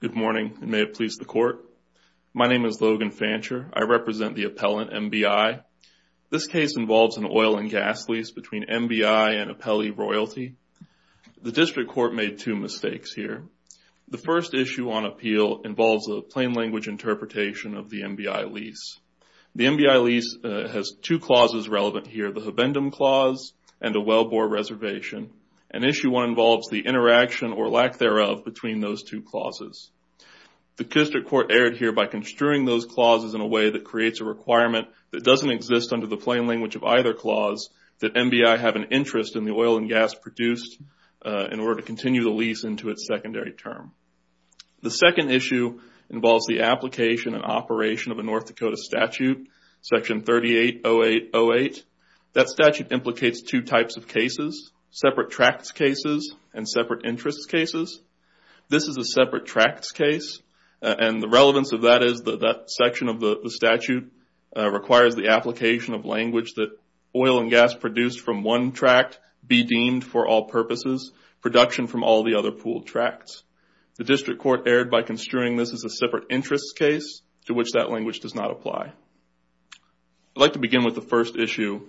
Good morning, and may it please the Court. My name is Logan Fancher. I represent the Appellant, MBI. This case involves an oil and gas lease between MBI and Appellee Royalty. The District Court made two mistakes here. The first issue on appeal involves a plain language interpretation of the MBI lease. The MBI lease has two clauses relevant here, the Habendum Clause and the Wellbore Reservation. And issue one involves the interaction or lack thereof between those two clauses. The District Court erred here by construing those clauses in a way that creates a requirement that doesn't exist under the plain language of either clause that MBI have an interest in the oil and gas produced in order to continue the lease into its secondary term. The second issue involves the application and operation of a North Dakota statute, Section 380808. That statute implicates two types of cases, separate tracts cases and separate interest cases. This is a separate tracts case, and the relevance of that is that that section of the statute requires the application of language that oil and gas produced from one tract be deemed for all purposes, production from all the other pooled tracts. The District Court erred by construing this as a separate interest case to which that language does not apply. I'd like to begin with the first issue,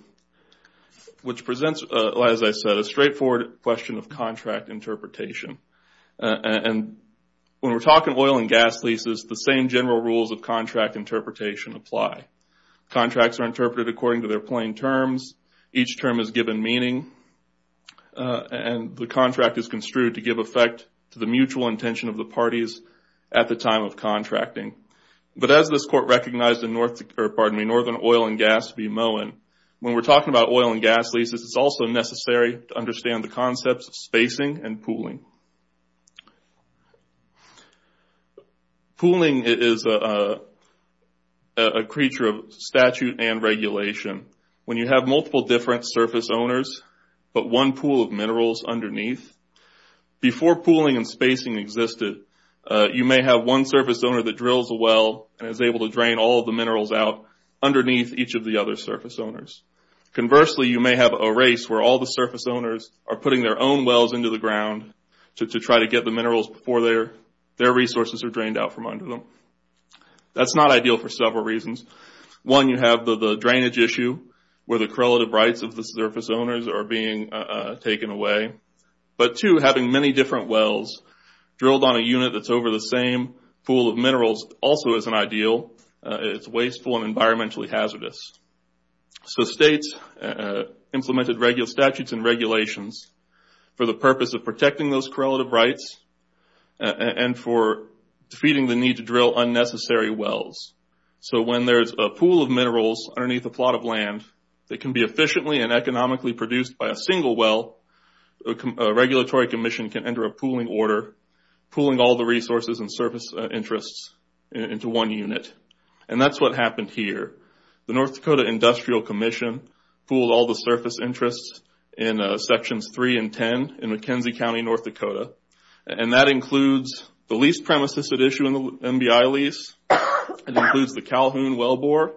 which presents, as I said, a straightforward question of contract interpretation. When we're talking oil and gas leases, the same general rules of contract interpretation apply. Contracts are interpreted according to their plain terms. Each term is given meaning, and the contract is construed to give effect to the mutual intention of the parties at the time of contracting. But as this Court recognized in Northern Oil and Gas v. Moen, when we're talking about oil and gas leases, it's also necessary to understand the concepts of spacing and pooling. Pooling is a creature of statute and regulation. When you have multiple different surface owners but one pool of minerals underneath, before pooling and spacing existed, you may have one surface owner that drills a well and is able to drain all of the minerals out underneath each of the other surface owners. Conversely, you may have a race where all the surface owners are putting their own wells into the ground to try to get the minerals before their resources are drained out from under them. That's not ideal for several reasons. One, you have the drainage issue where the correlative rights of the surface owners are being taken away. But two, having many different wells drilled on a unit that's over the same pool of minerals also isn't ideal. It's wasteful and environmentally hazardous. So states implemented regular statutes and regulations for the purpose of protecting those correlative rights and for defeating the need to drill unnecessary wells. So when there's a pool of minerals underneath a plot of land that can be efficiently and economically produced by a single well, a regulatory commission can enter a pooling order, pooling all the resources and surface interests into one unit. And that's what happened here. The North Dakota Industrial Commission pooled all the surface interests in sections three and ten in McKenzie County, North Dakota. And that includes the lease premises that issue in the MBI lease. It includes the Calhoun well bore.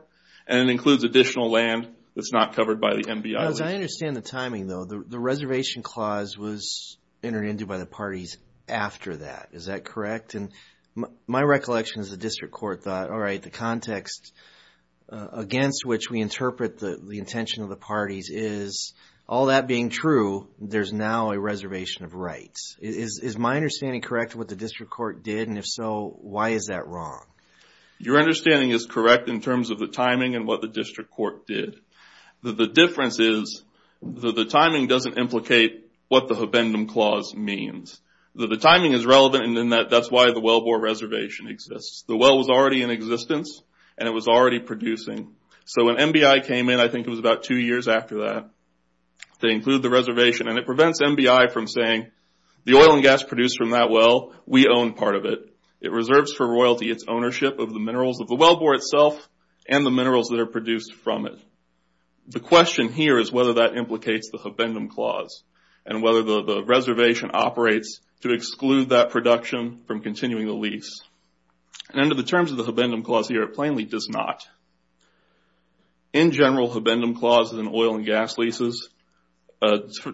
And it includes additional land that's not covered by the MBI lease. Now as I understand the timing though, the reservation clause was entered into by the parties after that. Is that correct? And my recollection is the district court thought, all right, the context against which we interpret the intention of the parties is, all that being true, there's now a reservation of rights. Is my understanding correct what the district court did? And if so, why is that wrong? Your understanding is correct in terms of the timing and what the district court did. The difference is that the timing doesn't implicate what the Habendum clause means. The timing is relevant and that's why the well bore reservation exists. The well was already in existence and it was already producing. So when MBI came in, I think it was about two years after that, they included the reservation. And it prevents MBI from saying, the oil and gas produced from that well, we own part of it. It reserves for royalty its ownership of the minerals of the well bore itself and the minerals that are produced from it. The question here is whether that implicates the Habendum clause and whether the reservation operates to exclude that production from continuing the lease. And under the terms of the Habendum clause here, it plainly does not. In general, Habendum clauses in oil and gas leases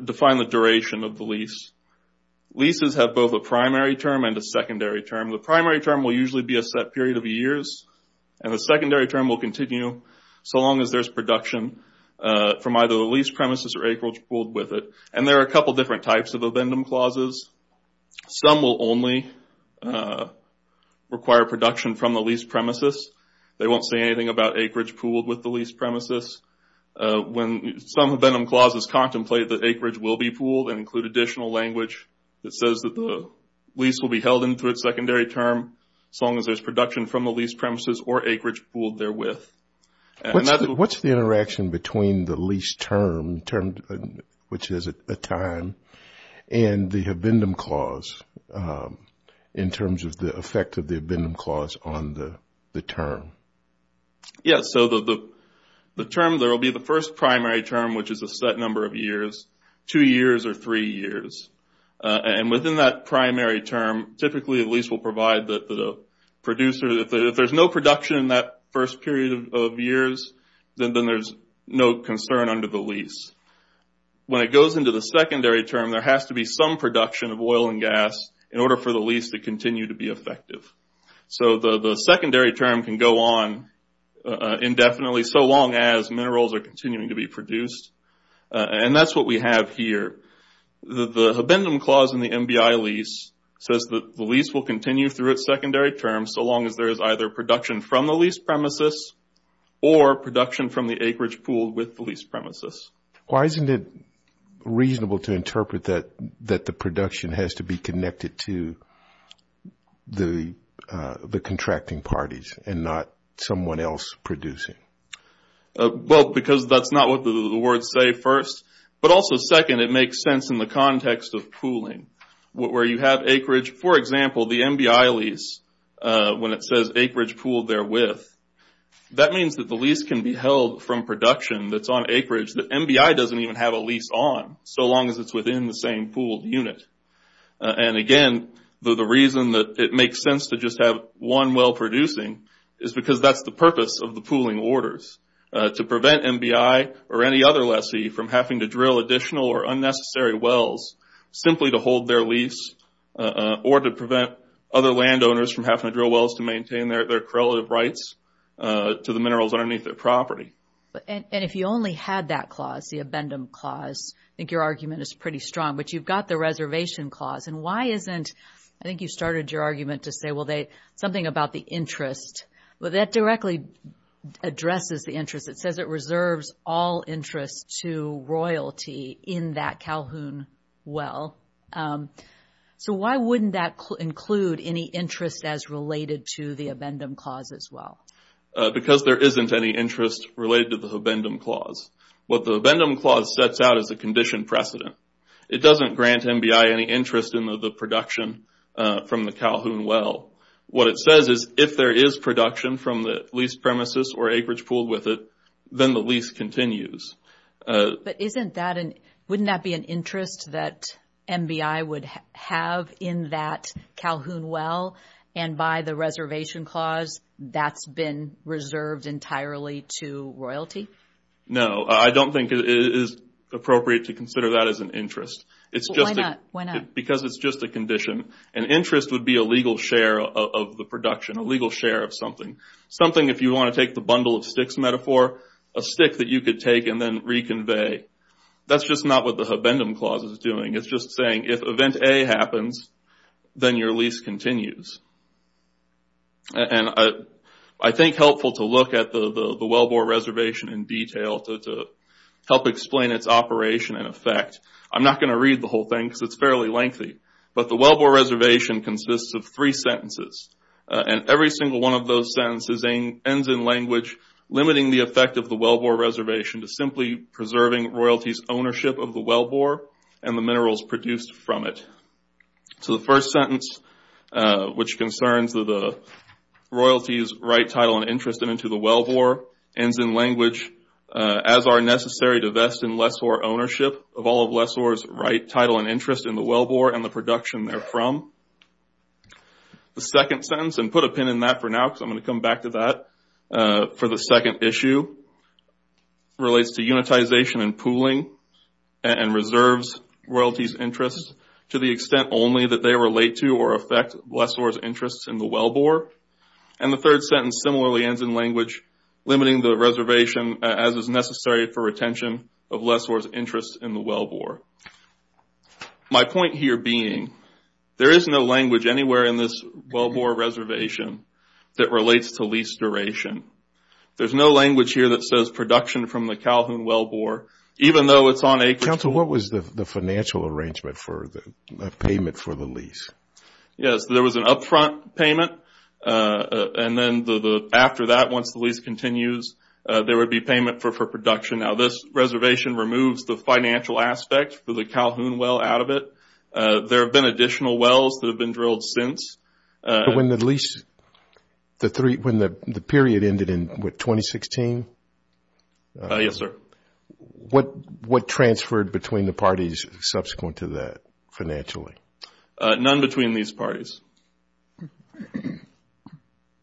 define the duration of the lease. Leases have both a primary term and a secondary term. The primary term will usually be a set period of years and the secondary term will continue so long as there's production from either the lease premises or acreage pooled with it. And there are a couple different types of Habendum clauses. Some will only require production from the lease premises. They won't say anything about acreage pooled with the lease premises. When some Habendum clauses contemplate that acreage will be pooled and include additional language that says that the lease will be held in through its secondary term so long as there's production from the lease premises or acreage pooled therewith. What's the interaction between the lease term, which is a time, and the Habendum clause in terms of the effect of the Habendum clause on the term? Yes, so the term there will be the first primary term, which is a set number of years, two years, or three years. And within that primary term, typically a lease will provide the producer that if there's no production in that first period of years, then there's no concern under the lease. When it goes into the secondary term, there has to be some production of oil and gas in order for the lease to continue to be effective. So the secondary term can go on indefinitely so long as minerals are continuing to be produced. And that's what we have here. The Habendum clause in the MBI lease says that the lease will continue through its secondary term so long as there is either production from the lease premises or production from the acreage pooled with the lease premises. Why isn't it reasonable to interpret that the production has to be connected to the contracting parties and not someone else producing? Well, because that's not what the words say first. But also second, it makes sense in the context of pooling where you have acreage. For example, the MBI lease, when it says acreage pooled therewith, that means that the lease can be held from production that's on acreage that MBI doesn't even have a lease on so long as it's within the same pooled unit. And again, the reason that it makes sense to just have one well producing is because that's the purpose of the pooling orders, to prevent MBI or any other lessee from having to drill additional or unnecessary wells simply to hold their lease or to prevent other landowners from having to drill wells to maintain their correlative rights to the minerals underneath their property. And if you only had that clause, the Habendum clause, I think your argument is pretty strong. But you've got the reservation clause. And why isn't, I think you started your argument to say something about the interest. Well, that directly addresses the interest. It says it reserves all interest to royalty in that Calhoun well. So why wouldn't that include any interest as related to the Habendum clause as well? Because there isn't any interest related to the Habendum clause. What the Habendum clause sets out is a condition precedent. It doesn't grant MBI any interest in the production from the Calhoun well. What it says is if there is production from the leased premises or acreage pooled with it, then the lease continues. But isn't that an, wouldn't that be an interest that MBI would have in that Calhoun well? And by the reservation clause, that's been reserved entirely to royalty? No, I don't think it is appropriate to consider that as an interest. It's just a... Why not? Interest would be a legal share of the production, a legal share of something. Something if you want to take the bundle of sticks metaphor, a stick that you could take and then reconvey. That's just not what the Habendum clause is doing. It's just saying if event A happens, then your lease continues. And I think helpful to look at the Wellbore reservation in detail to help explain its operation and effect. I'm not going to read the whole thing because it's fairly lengthy. But the Wellbore reservation consists of three sentences. And every single one of those sentences ends in language limiting the effect of the Wellbore reservation to simply preserving royalties ownership of the Wellbore and the minerals produced from it. So the first sentence, which concerns the royalties right title and interest into the Wellbore, ends in language, as are necessary to vest in lessor ownership of all of lessor's right title and interest in the Wellbore and the production therefrom. The second sentence, and put a pin in that for now because I'm going to come back to that for the second issue, relates to unitization and pooling and reserves royalties interest to the extent only that they relate to or affect lessor's interests in the Wellbore. And the third sentence similarly ends in language limiting the reservation as is necessary for retention of lessor's interest in the Wellbore. My point here being there is no language anywhere in this Wellbore reservation that relates to lease duration. There's no language here that says production from the Calhoun Wellbore even though it's on acreage. Counsel, what was the financial arrangement for the payment for the lease? Yes, there was an upfront payment. And then after that, once the lease continues, there would be payment for production. Now this reservation removes the financial aspect for the Calhoun Well out of it. There have been additional wells that have been drilled since. But when the lease, when the period ended in what, 2016? Yes, sir. What transferred between the parties subsequent to that financially? None between these parties.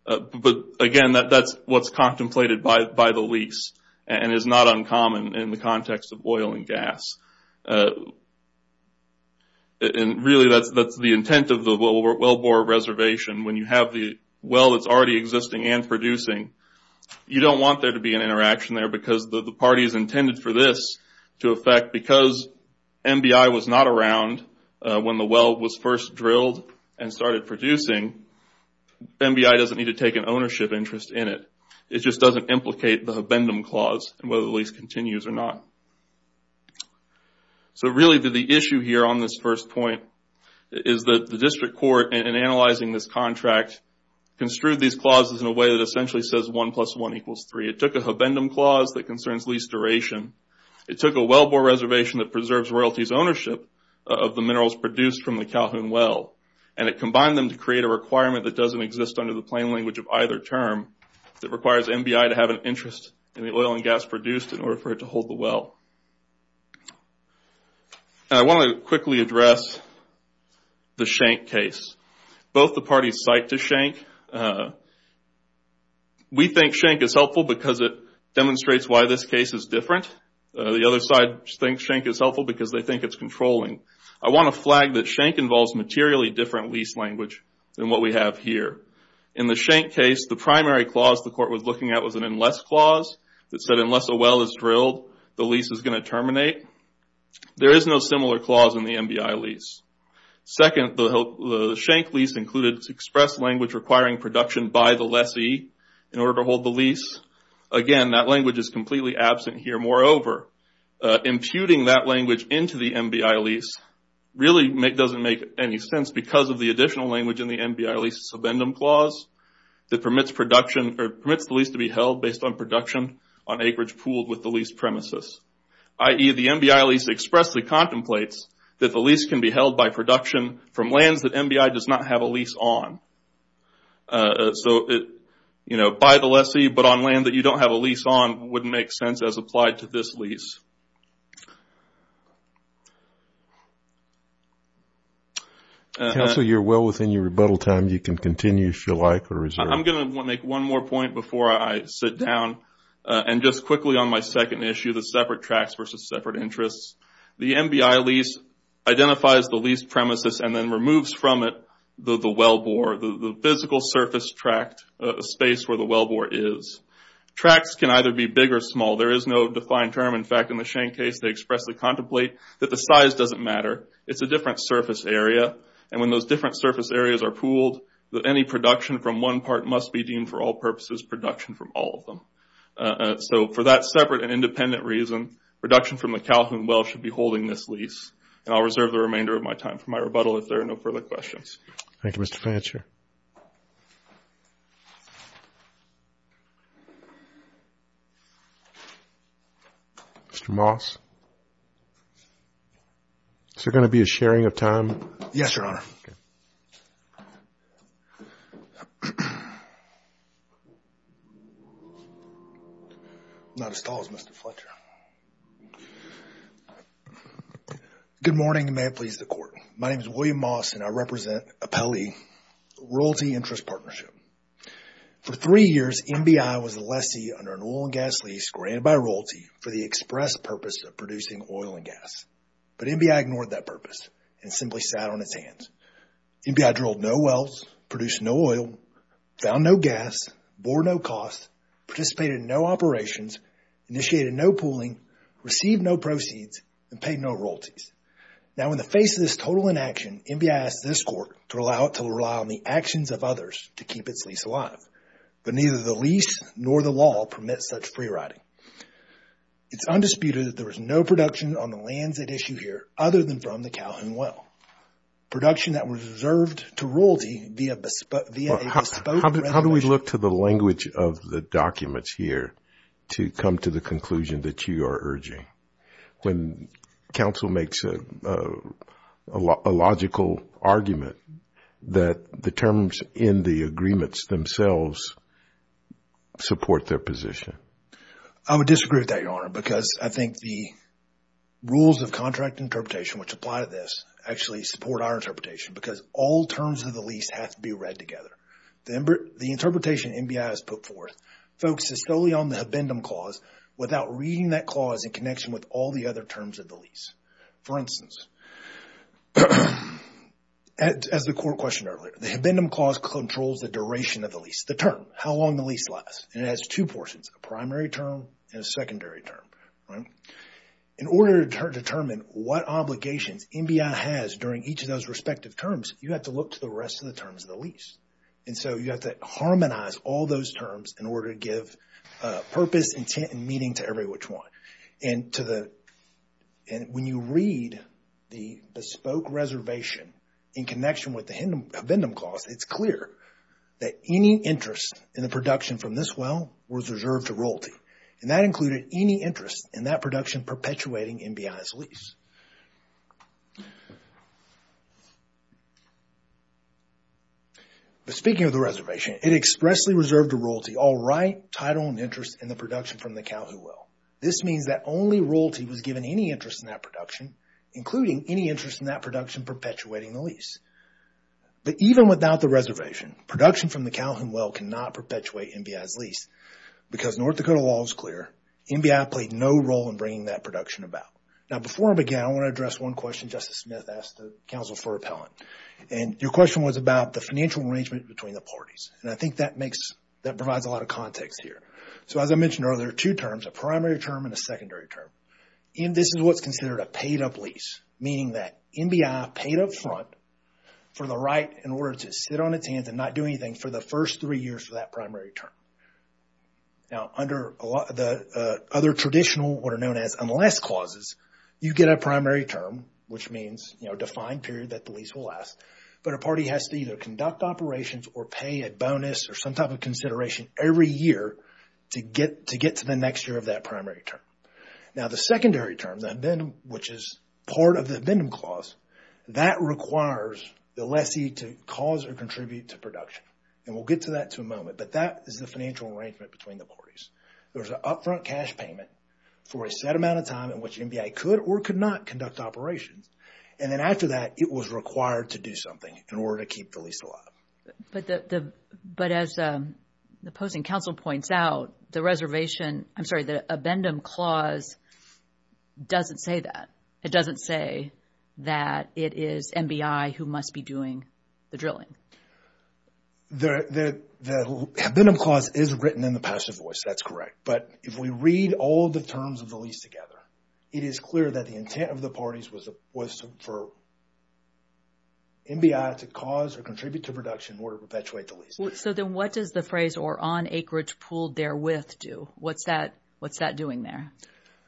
But again, that's what's contemplated by the lease and is not uncommon in the context of oil and gas. And really that's the intent of the Wellbore reservation. When you have the well that's already existing and producing, you don't want there to be an interaction there because the party's intended for this to affect. Because MBI was not around when the well was first drilled and started producing, MBI doesn't need to take an ownership interest in it. It just doesn't implicate the habendum clause whether the lease continues or not. So really the issue here on this first point is that the district court in analyzing this contract construed these clauses in a way that essentially says 1 plus 1 equals 3. It took a Wellbore reservation that preserves royalties ownership of the minerals produced from the Calhoun well. And it combined them to create a requirement that doesn't exist under the plain language of either term that requires MBI to have an interest in the oil and gas produced in order for it to hold the well. I want to quickly address the Schenck case. Both the parties cite to Schenck. We think why this case is different. The other side thinks Schenck is helpful because they think it's controlling. I want to flag that Schenck involves materially different lease language than what we have here. In the Schenck case, the primary clause the court was looking at was an unless clause that said unless a well is drilled, the lease is going to terminate. There is no similar clause in the MBI lease. Second, the Schenck lease included express language requiring production by the lessee in order to hold the lease. Again, that language is completely absent here. Moreover, imputing that language into the MBI lease really doesn't make any sense because of the additional language in the MBI lease subendum clause that permits production or permits the lease to be held based on production on acreage pooled with the lease premises. I.e., the MBI lease expressly contemplates that the lease can be held by production from lands that MBI does not have a lease on. By the lessee, but on land that you don't have a lease on wouldn't make sense as applied to this lease. Counsel, you're well within your rebuttal time. You can continue if you like or reserve. I'm going to make one more point before I sit down and just quickly on my second issue, the separate tracts versus separate interests. The MBI lease identifies the lease premises and then removes from it the wellbore, the physical surface tract space where the wellbore is. Tracts can either be big or small. There is no defined term. In fact, in the Shane case they expressly contemplate that the size doesn't matter. It's a different surface area. When those different surface areas are pooled, any production from one part must be deemed for all purposes production from all of them. For that separate and independent reason, production from the Calhoun well should be holding this lease. I'll reserve the remainder of my time for my rebuttal if there are no further questions. Thank you, Mr. Fletcher. Mr. Moss, is there going to be a sharing of time? Yes, Your Honor. I'm not as tall as Mr. Fletcher. Good morning and may it please the Court. My name is William Moss and I represent Appellee Royalty Interest Partnership. For three years MBI was a lessee under an oil and gas lease granted by royalty for the express purpose of producing oil and gas. But MBI ignored that purpose and simply sat on its hands. MBI drilled no wells, produced no oil, found no gas, bore no costs, participated in no operations, initiated no pooling, received no proceeds, and paid no royalties. Now in the face of this total inaction, MBI asked this Court to allow it to rely on the actions of others to keep its lease alive. But neither the lease nor the law permits such free riding. It's undisputed that there was no production on the lands at issue here other than from the Calhoun well. Production that was reserved to royalty via a bespoke reservation. How do we look to the language of the documents here to come to the conclusion that you are when counsel makes a logical argument that the terms in the agreements themselves support their position? I would disagree with that, Your Honor, because I think the rules of contract interpretation which apply to this actually support our interpretation because all terms of the lease have to be read together. The interpretation MBI has put forth focuses solely on the habendum clause without reading that clause in connection with all the other terms of the lease. For instance, as the Court questioned earlier, the habendum clause controls the duration of the lease, the term, how long the lease lasts. And it has two portions, a primary term and a secondary term. In order to determine what obligations MBI has during each of those respective terms, you have to look to the rest of the terms of the lease. And so you have to harmonize all those terms in order to give purpose, intent, and meaning to every which one. And when you read the bespoke reservation in connection with the habendum clause, it's clear that any interest in the production from this well was reserved to royalty. And that included any interest in that production perpetuating MBI's lease. But speaking of the reservation, it expressly reserved to royalty all right, title, and interest in the production from the Calhoun well. This means that only royalty was given any interest in that production, including any interest in that production perpetuating the lease. But even without the reservation, production from the Calhoun well cannot perpetuate MBI's lease because North Dakota law is clear. MBI played no role in bringing that production about. Now before I begin, I want to address one question Justice Smith asked the counsel for repellent. And your question was about the financial arrangement between the parties. And I think that makes, that provides a lot of context here. So as I mentioned earlier, two terms, a primary term and a secondary term. And this is what's considered a paid up lease, meaning that MBI paid up front for the right in order to sit on its hands and not do anything for the first three years for that primary term. Now under the other traditional, what are known as unless clauses, you get a primary term, which means, you know, defined period that the lease will last. But a party has to either conduct operations or pay a bonus or some type of consideration every year to get, to get to the next year of that primary term. Now the secondary term then, which is part of the Abendum Clause, that requires the lessee to cause or contribute to production. And we'll get to that in a moment. But that is the financial arrangement between the parties. There's an upfront cash payment for a set amount of time in which MBI could or could not conduct operations. And then after that, it was required to do something in order to keep the lease alive. But as the opposing counsel points out, the reservation, I'm sorry, the Abendum Clause doesn't say that. It doesn't say that it is MBI who must be doing the drilling. The Abendum Clause is written in the passive voice. That's correct. But if we read all the terms of the lease together, it is clear that the intent of the parties was for MBI to cause or contribute to production in order to perpetuate the lease. So then what does the phrase or on acreage pooled therewith do? What's that, what's that doing there?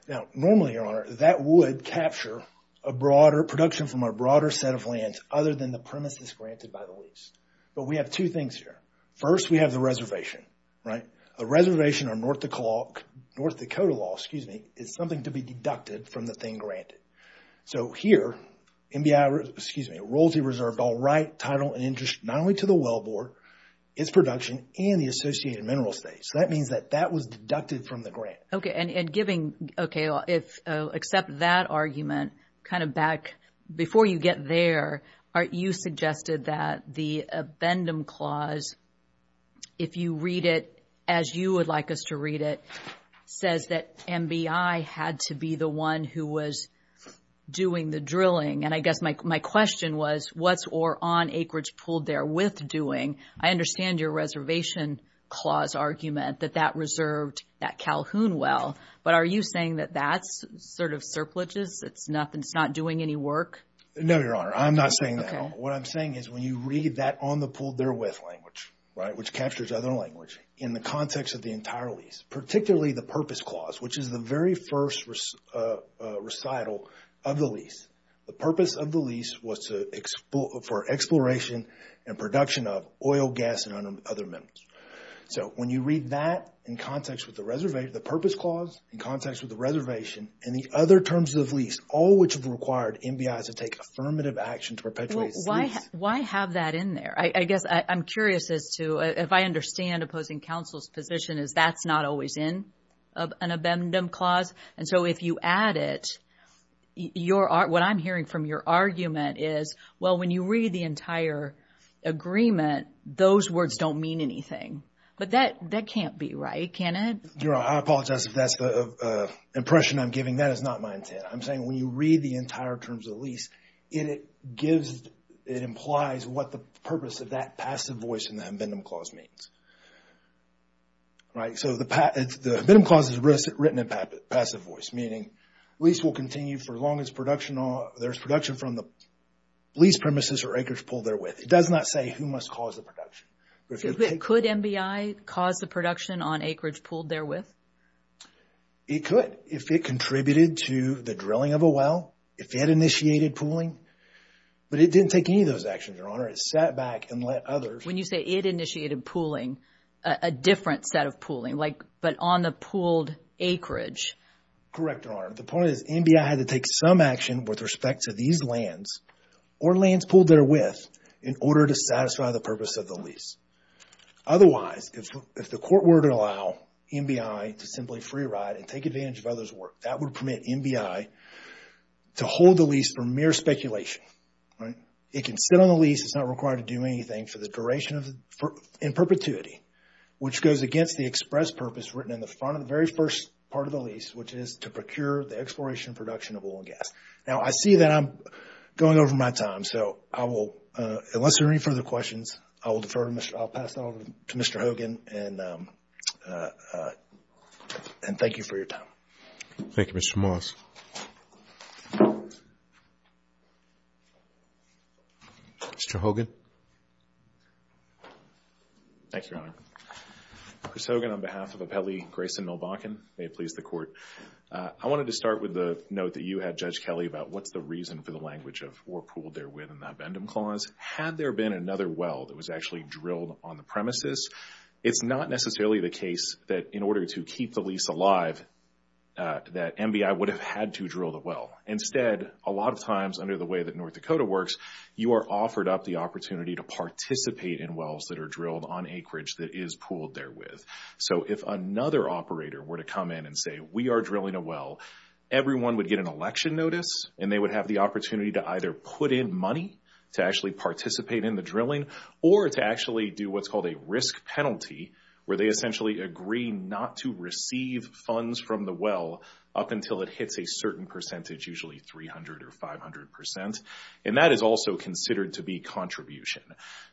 Now normally, Your Honor, that would capture a broader production from a broader set of other than the premises granted by the lease. But we have two things here. First, we have the reservation, right? A reservation or North Dakota law, excuse me, is something to be deducted from the thing granted. So here, MBI, excuse me, a royalty reserved all right title and interest not only to the well board, its production, and the associated mineral state. So that means that that was deducted from the grant. Okay. And giving, okay, if except that argument kind of back before you get there, you suggested that the Abendum Clause, if you read it as you would like us to read it, says that MBI had to be the one who was doing the drilling. And I guess my question was what's or on acreage pooled therewith doing. I understand your reservation clause argument that that reserved that Calhoun well, but are you saying that that's sort of surpluses? It's not doing any work? No, Your Honor. I'm not saying that at all. What I'm saying is when you read that on the pooled therewith language, right, which captures other language in the context of the entire lease, particularly the Purpose Clause, which is the very first recital of the lease. The purpose of the lease was for exploration and production of oil, gas, and other minerals. So when you read that in context with the reservation, the Purpose Clause in context with the reservation and the other terms of lease, all which have required MBI to take affirmative action to perpetuate the lease. Why have that in there? I guess I'm curious as to if I understand opposing counsel's position is that's not always in an Abendum Clause. And so if you add it, what I'm hearing from your argument is, well, when you read the entire agreement, those words don't mean anything. But that can't be right, can it? Your Honor, I apologize if that's the impression I'm giving. That is not my intent. I'm saying when you read the entire terms of lease, it implies what the purpose of that passive voice in the Abendum Clause means. Right? So the Abendum Clause is written in passive voice, meaning lease will continue for as long as production, there's production from the lease premises or acreage pooled therewith. It does not say who must cause the production. Could MBI cause the production on acreage pooled therewith? It could, if it contributed to the drilling of a well, if it initiated pooling. But it didn't take any of those actions, Your Honor. It sat back and let others. When you say it initiated pooling, a different set of pooling, like, but on the pooled acreage. Correct, Your Honor. The point is MBI had to take some action with respect to these lands or lands pooled therewith in order to satisfy the purpose of the lease. Otherwise, if the court were to allow MBI to simply free ride and take advantage of others' work, that would permit MBI to hold the lease for mere speculation. Right? It can sit on the lease, it's not required to do anything for the duration of the, in perpetuity, which goes against the express purpose written in the front of the very first part of the lease, which is to procure the exploration and production of oil and gas. Now, I see that I'm going over my time. So, I will, unless there are any further questions, I will defer. I'll pass that over to Mr. Hogan. And thank you for your time. Thank you, Mr. Morris. Mr. Hogan? Thank you, Your Honor. Chris Hogan on behalf of Appellee Grayson Milbakken. May it please the Court. I wanted to start with the note that you had, Judge Kelly, about what's the reason for the language of or pooled therewith in the Abendum Clause. Had there been another well that was actually drilled on the premises, it's not necessarily the case that in order to keep the lease alive that MBI would have had to drill the well. Instead, a lot of times under the way North Dakota works, you are offered up the opportunity to participate in wells that are drilled on acreage that is pooled therewith. So, if another operator were to come in and say, we are drilling a well, everyone would get an election notice and they would have the opportunity to either put in money to actually participate in the drilling or to actually do what's called a risk penalty, where they essentially agree not to receive funds from the well up until it hits a certain percentage, usually 300 or 500 percent. And that is also considered to be contribution.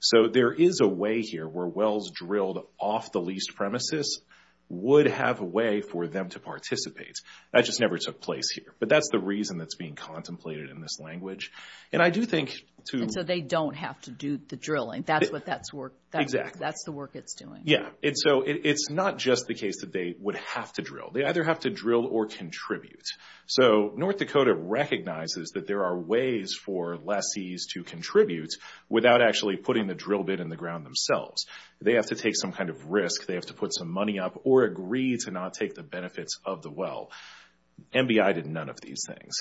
So, there is a way here where wells drilled off the leased premises would have a way for them to participate. That just never took place here. But that's the reason that's being contemplated in this language. And I do think to... And so, they don't have to do the drilling. That's what that's work... Exactly. That's the work it's doing. Yeah. And so, it's not just the case that they would have to drill. They either have to drill or contribute. So, North Dakota recognizes that there are ways for lessees to contribute without actually putting the drill bit in the ground themselves. They have to take some kind of risk. They have to put some money up or agree to not take the benefits of the well. MBI did none of these things.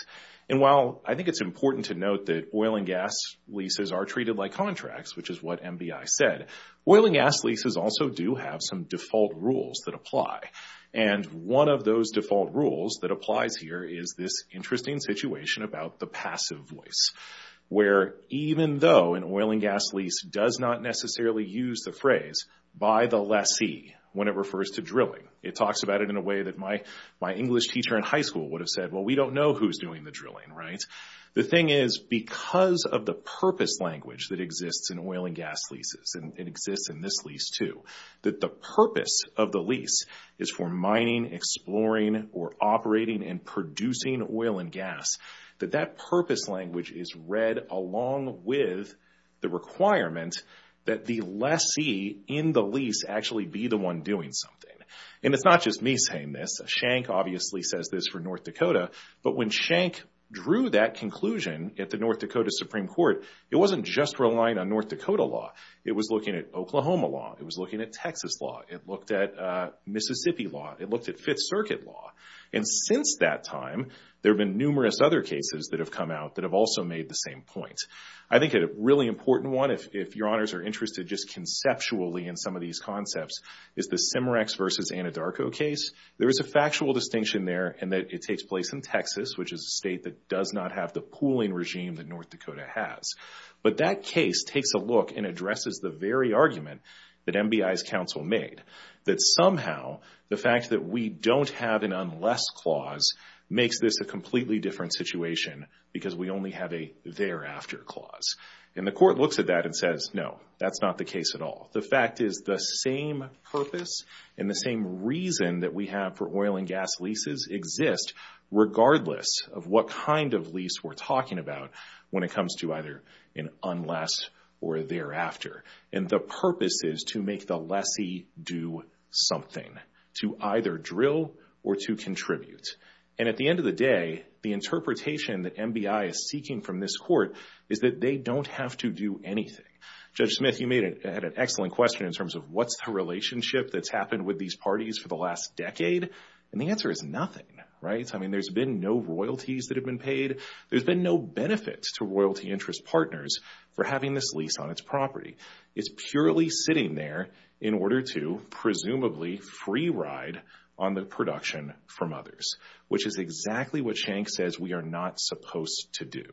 And while I think it's important to note that oil and gas leases are treated like contracts, which is what MBI said, oil and gas leases also do have some default rules that apply. And one of those default rules that applies here is this interesting situation about the passive voice, where even though an oil and gas lease does not necessarily use the phrase, by the lessee, when it refers to drilling. It talks about it in a way that my English teacher in high school would have said, well, we don't know who's doing the drilling, right? The thing is, because of the purpose language that exists in oil and gas leases and it exists in this lease too, that the purpose of the lease is for mining, exploring, or operating and producing oil and gas, that that purpose language is read along with the requirement that the lessee in the lease actually be the one doing something. And it's not just me saying this. Shank obviously says this for North Dakota. But when Shank drew that conclusion at the North Dakota law, it was looking at Oklahoma law. It was looking at Texas law. It looked at Mississippi law. It looked at Fifth Circuit law. And since that time, there have been numerous other cases that have come out that have also made the same point. I think a really important one, if your honors are interested just conceptually in some of these concepts, is the Simerex versus Anadarko case. There is a factual distinction there in that it takes place in Texas, which is a state that does not have the pooling regime that North Dakota has. But that case takes a look and addresses the very argument that MBI's counsel made, that somehow the fact that we don't have an unless clause makes this a completely different situation because we only have a thereafter clause. And the court looks at that and says, no, that's not the case at all. The fact is the same purpose and the same reason that we have for oil and gas leases exist regardless of what kind of lease we're talking about when it comes to either an unless or thereafter. And the purpose is to make the lessee do something, to either drill or to contribute. And at the end of the day, the interpretation that MBI is seeking from this court is that they don't have to do anything. Judge Smith, you made an excellent question in terms of what's the relationship that's happened with these parties for the last decade. And the answer is nothing, right? I mean, there's been no royalties that have been paid. There's been no benefits to royalty interest partners for having this lease on its property. It's purely sitting there in order to presumably free ride on the production from others, which is exactly what Schenck says we are not supposed to do.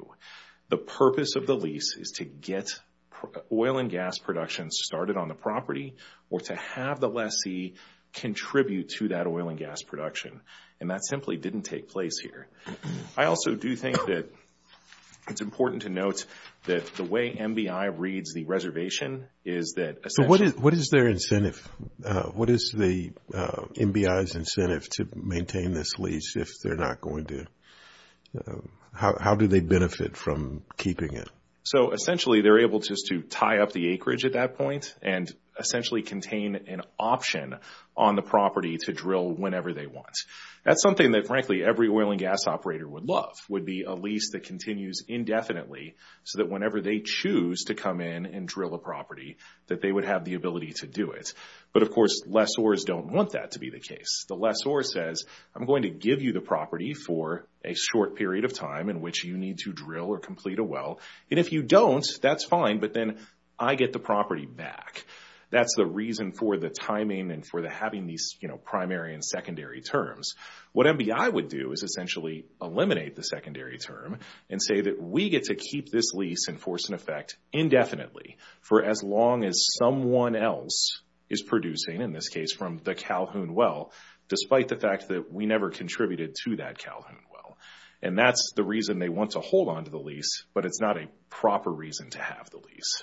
The purpose of the lease is to get oil and gas production started on the property or to have the lessee contribute to that oil and gas production. And that simply didn't take place here. I also do think that it's important to note that the way MBI reads the reservation is that... So what is their incentive? What is the MBI's incentive to maintain this lease if they're not going to? How do they benefit from keeping it? So essentially they're able just to tie up the acreage at that point and essentially contain an option on the property to drill whenever they want. That's something that frankly every oil and gas operator would love, would be a lease that continues indefinitely so that whenever they choose to come in and drill a property that they would have the ability to do it. But of course lessors don't want that to be the case. The lessor says, I'm going to give you the property for a short period of time in which you need to drill or complete a well. And if you don't, that's fine, but then I get the property back. That's the reason for the timing and for the having these primary and secondary terms. What MBI would do is essentially eliminate the secondary term and say that we get to keep this lease in force and effect indefinitely for as long as someone else is producing, in this case from the Calhoun well, despite the fact that we never contributed to that Calhoun well. And that's the reason they want to hold on to the lease, but it's not a proper reason to have the lease.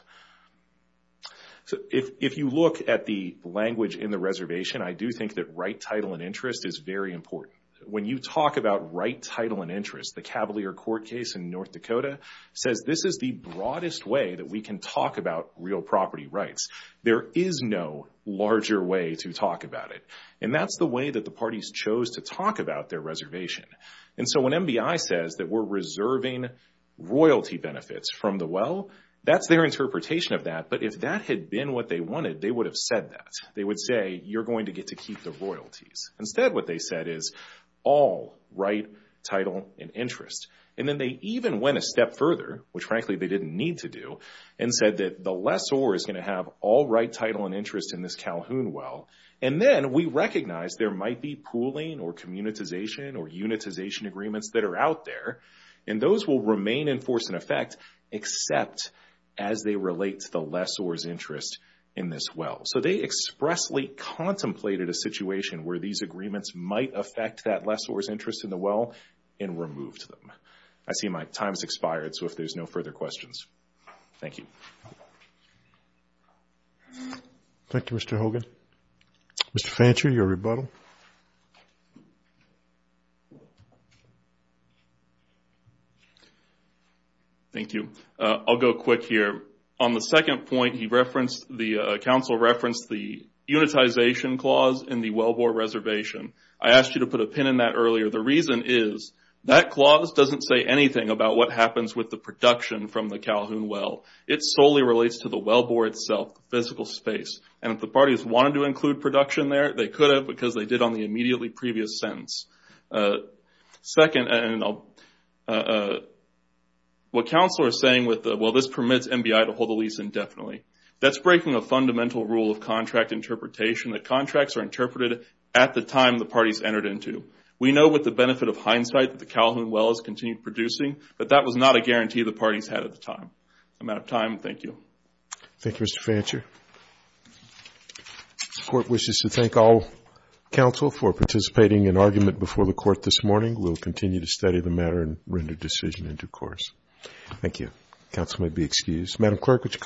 So if you look at the language in the reservation, I do think that right title and interest is very important. When you talk about right title and interest, the Cavalier Court case in North Dakota says this is the broadest way that we can talk about real property rights. There is no larger way to talk about it. And that's the way that the parties chose to talk about their reservation. And so when MBI says that we're reserving royalty benefits from the well, that's their interpretation of that. But if that had been what they wanted, they would have said that. They would say you're going to get to keep the royalties. Instead what they said is all right title and interest. And then they even went a step further, which frankly they didn't need to do, and said that the lessor is going to have all right title and interest in this Calhoun well. And then we recognize there might be pooling or communitization or unitization agreements that are out there, and those will remain in force and effect except as they relate to the lessor's interest in this well. So they expressly contemplated a situation where these agreements might affect that lessor's interest in the well and removed them. I see my time's expired, so if there's no further questions. Thank you. Thank you, Mr. Hogan. Mr. Fancher, your rebuttal. Thank you. I'll go quick here. On the second point, the council referenced the unitization clause in the wellbore reservation. I asked you to put a pin in that earlier. The reason is that clause doesn't say anything about what happens with the production from the Calhoun well. It solely relates to the wellbore itself, the physical space. And if the parties wanted to include production there, they could have because they did on the immediately previous sentence. Second, what council are saying with the, well, this permits MBI to hold the lease indefinitely. That's breaking a fundamental rule of contract interpretation that contracts are interpreted at the time the parties entered into. We know with the benefit of hindsight that the Calhoun well has continued producing, but that was not a guarantee the parties had at the time. I'm out of time. Thank you. Thank you, Mr. Fancher. The court wishes to thank all council for participating in argument before the court this morning. We'll continue to study the matter and render decision into course. Thank you. Council may be excused.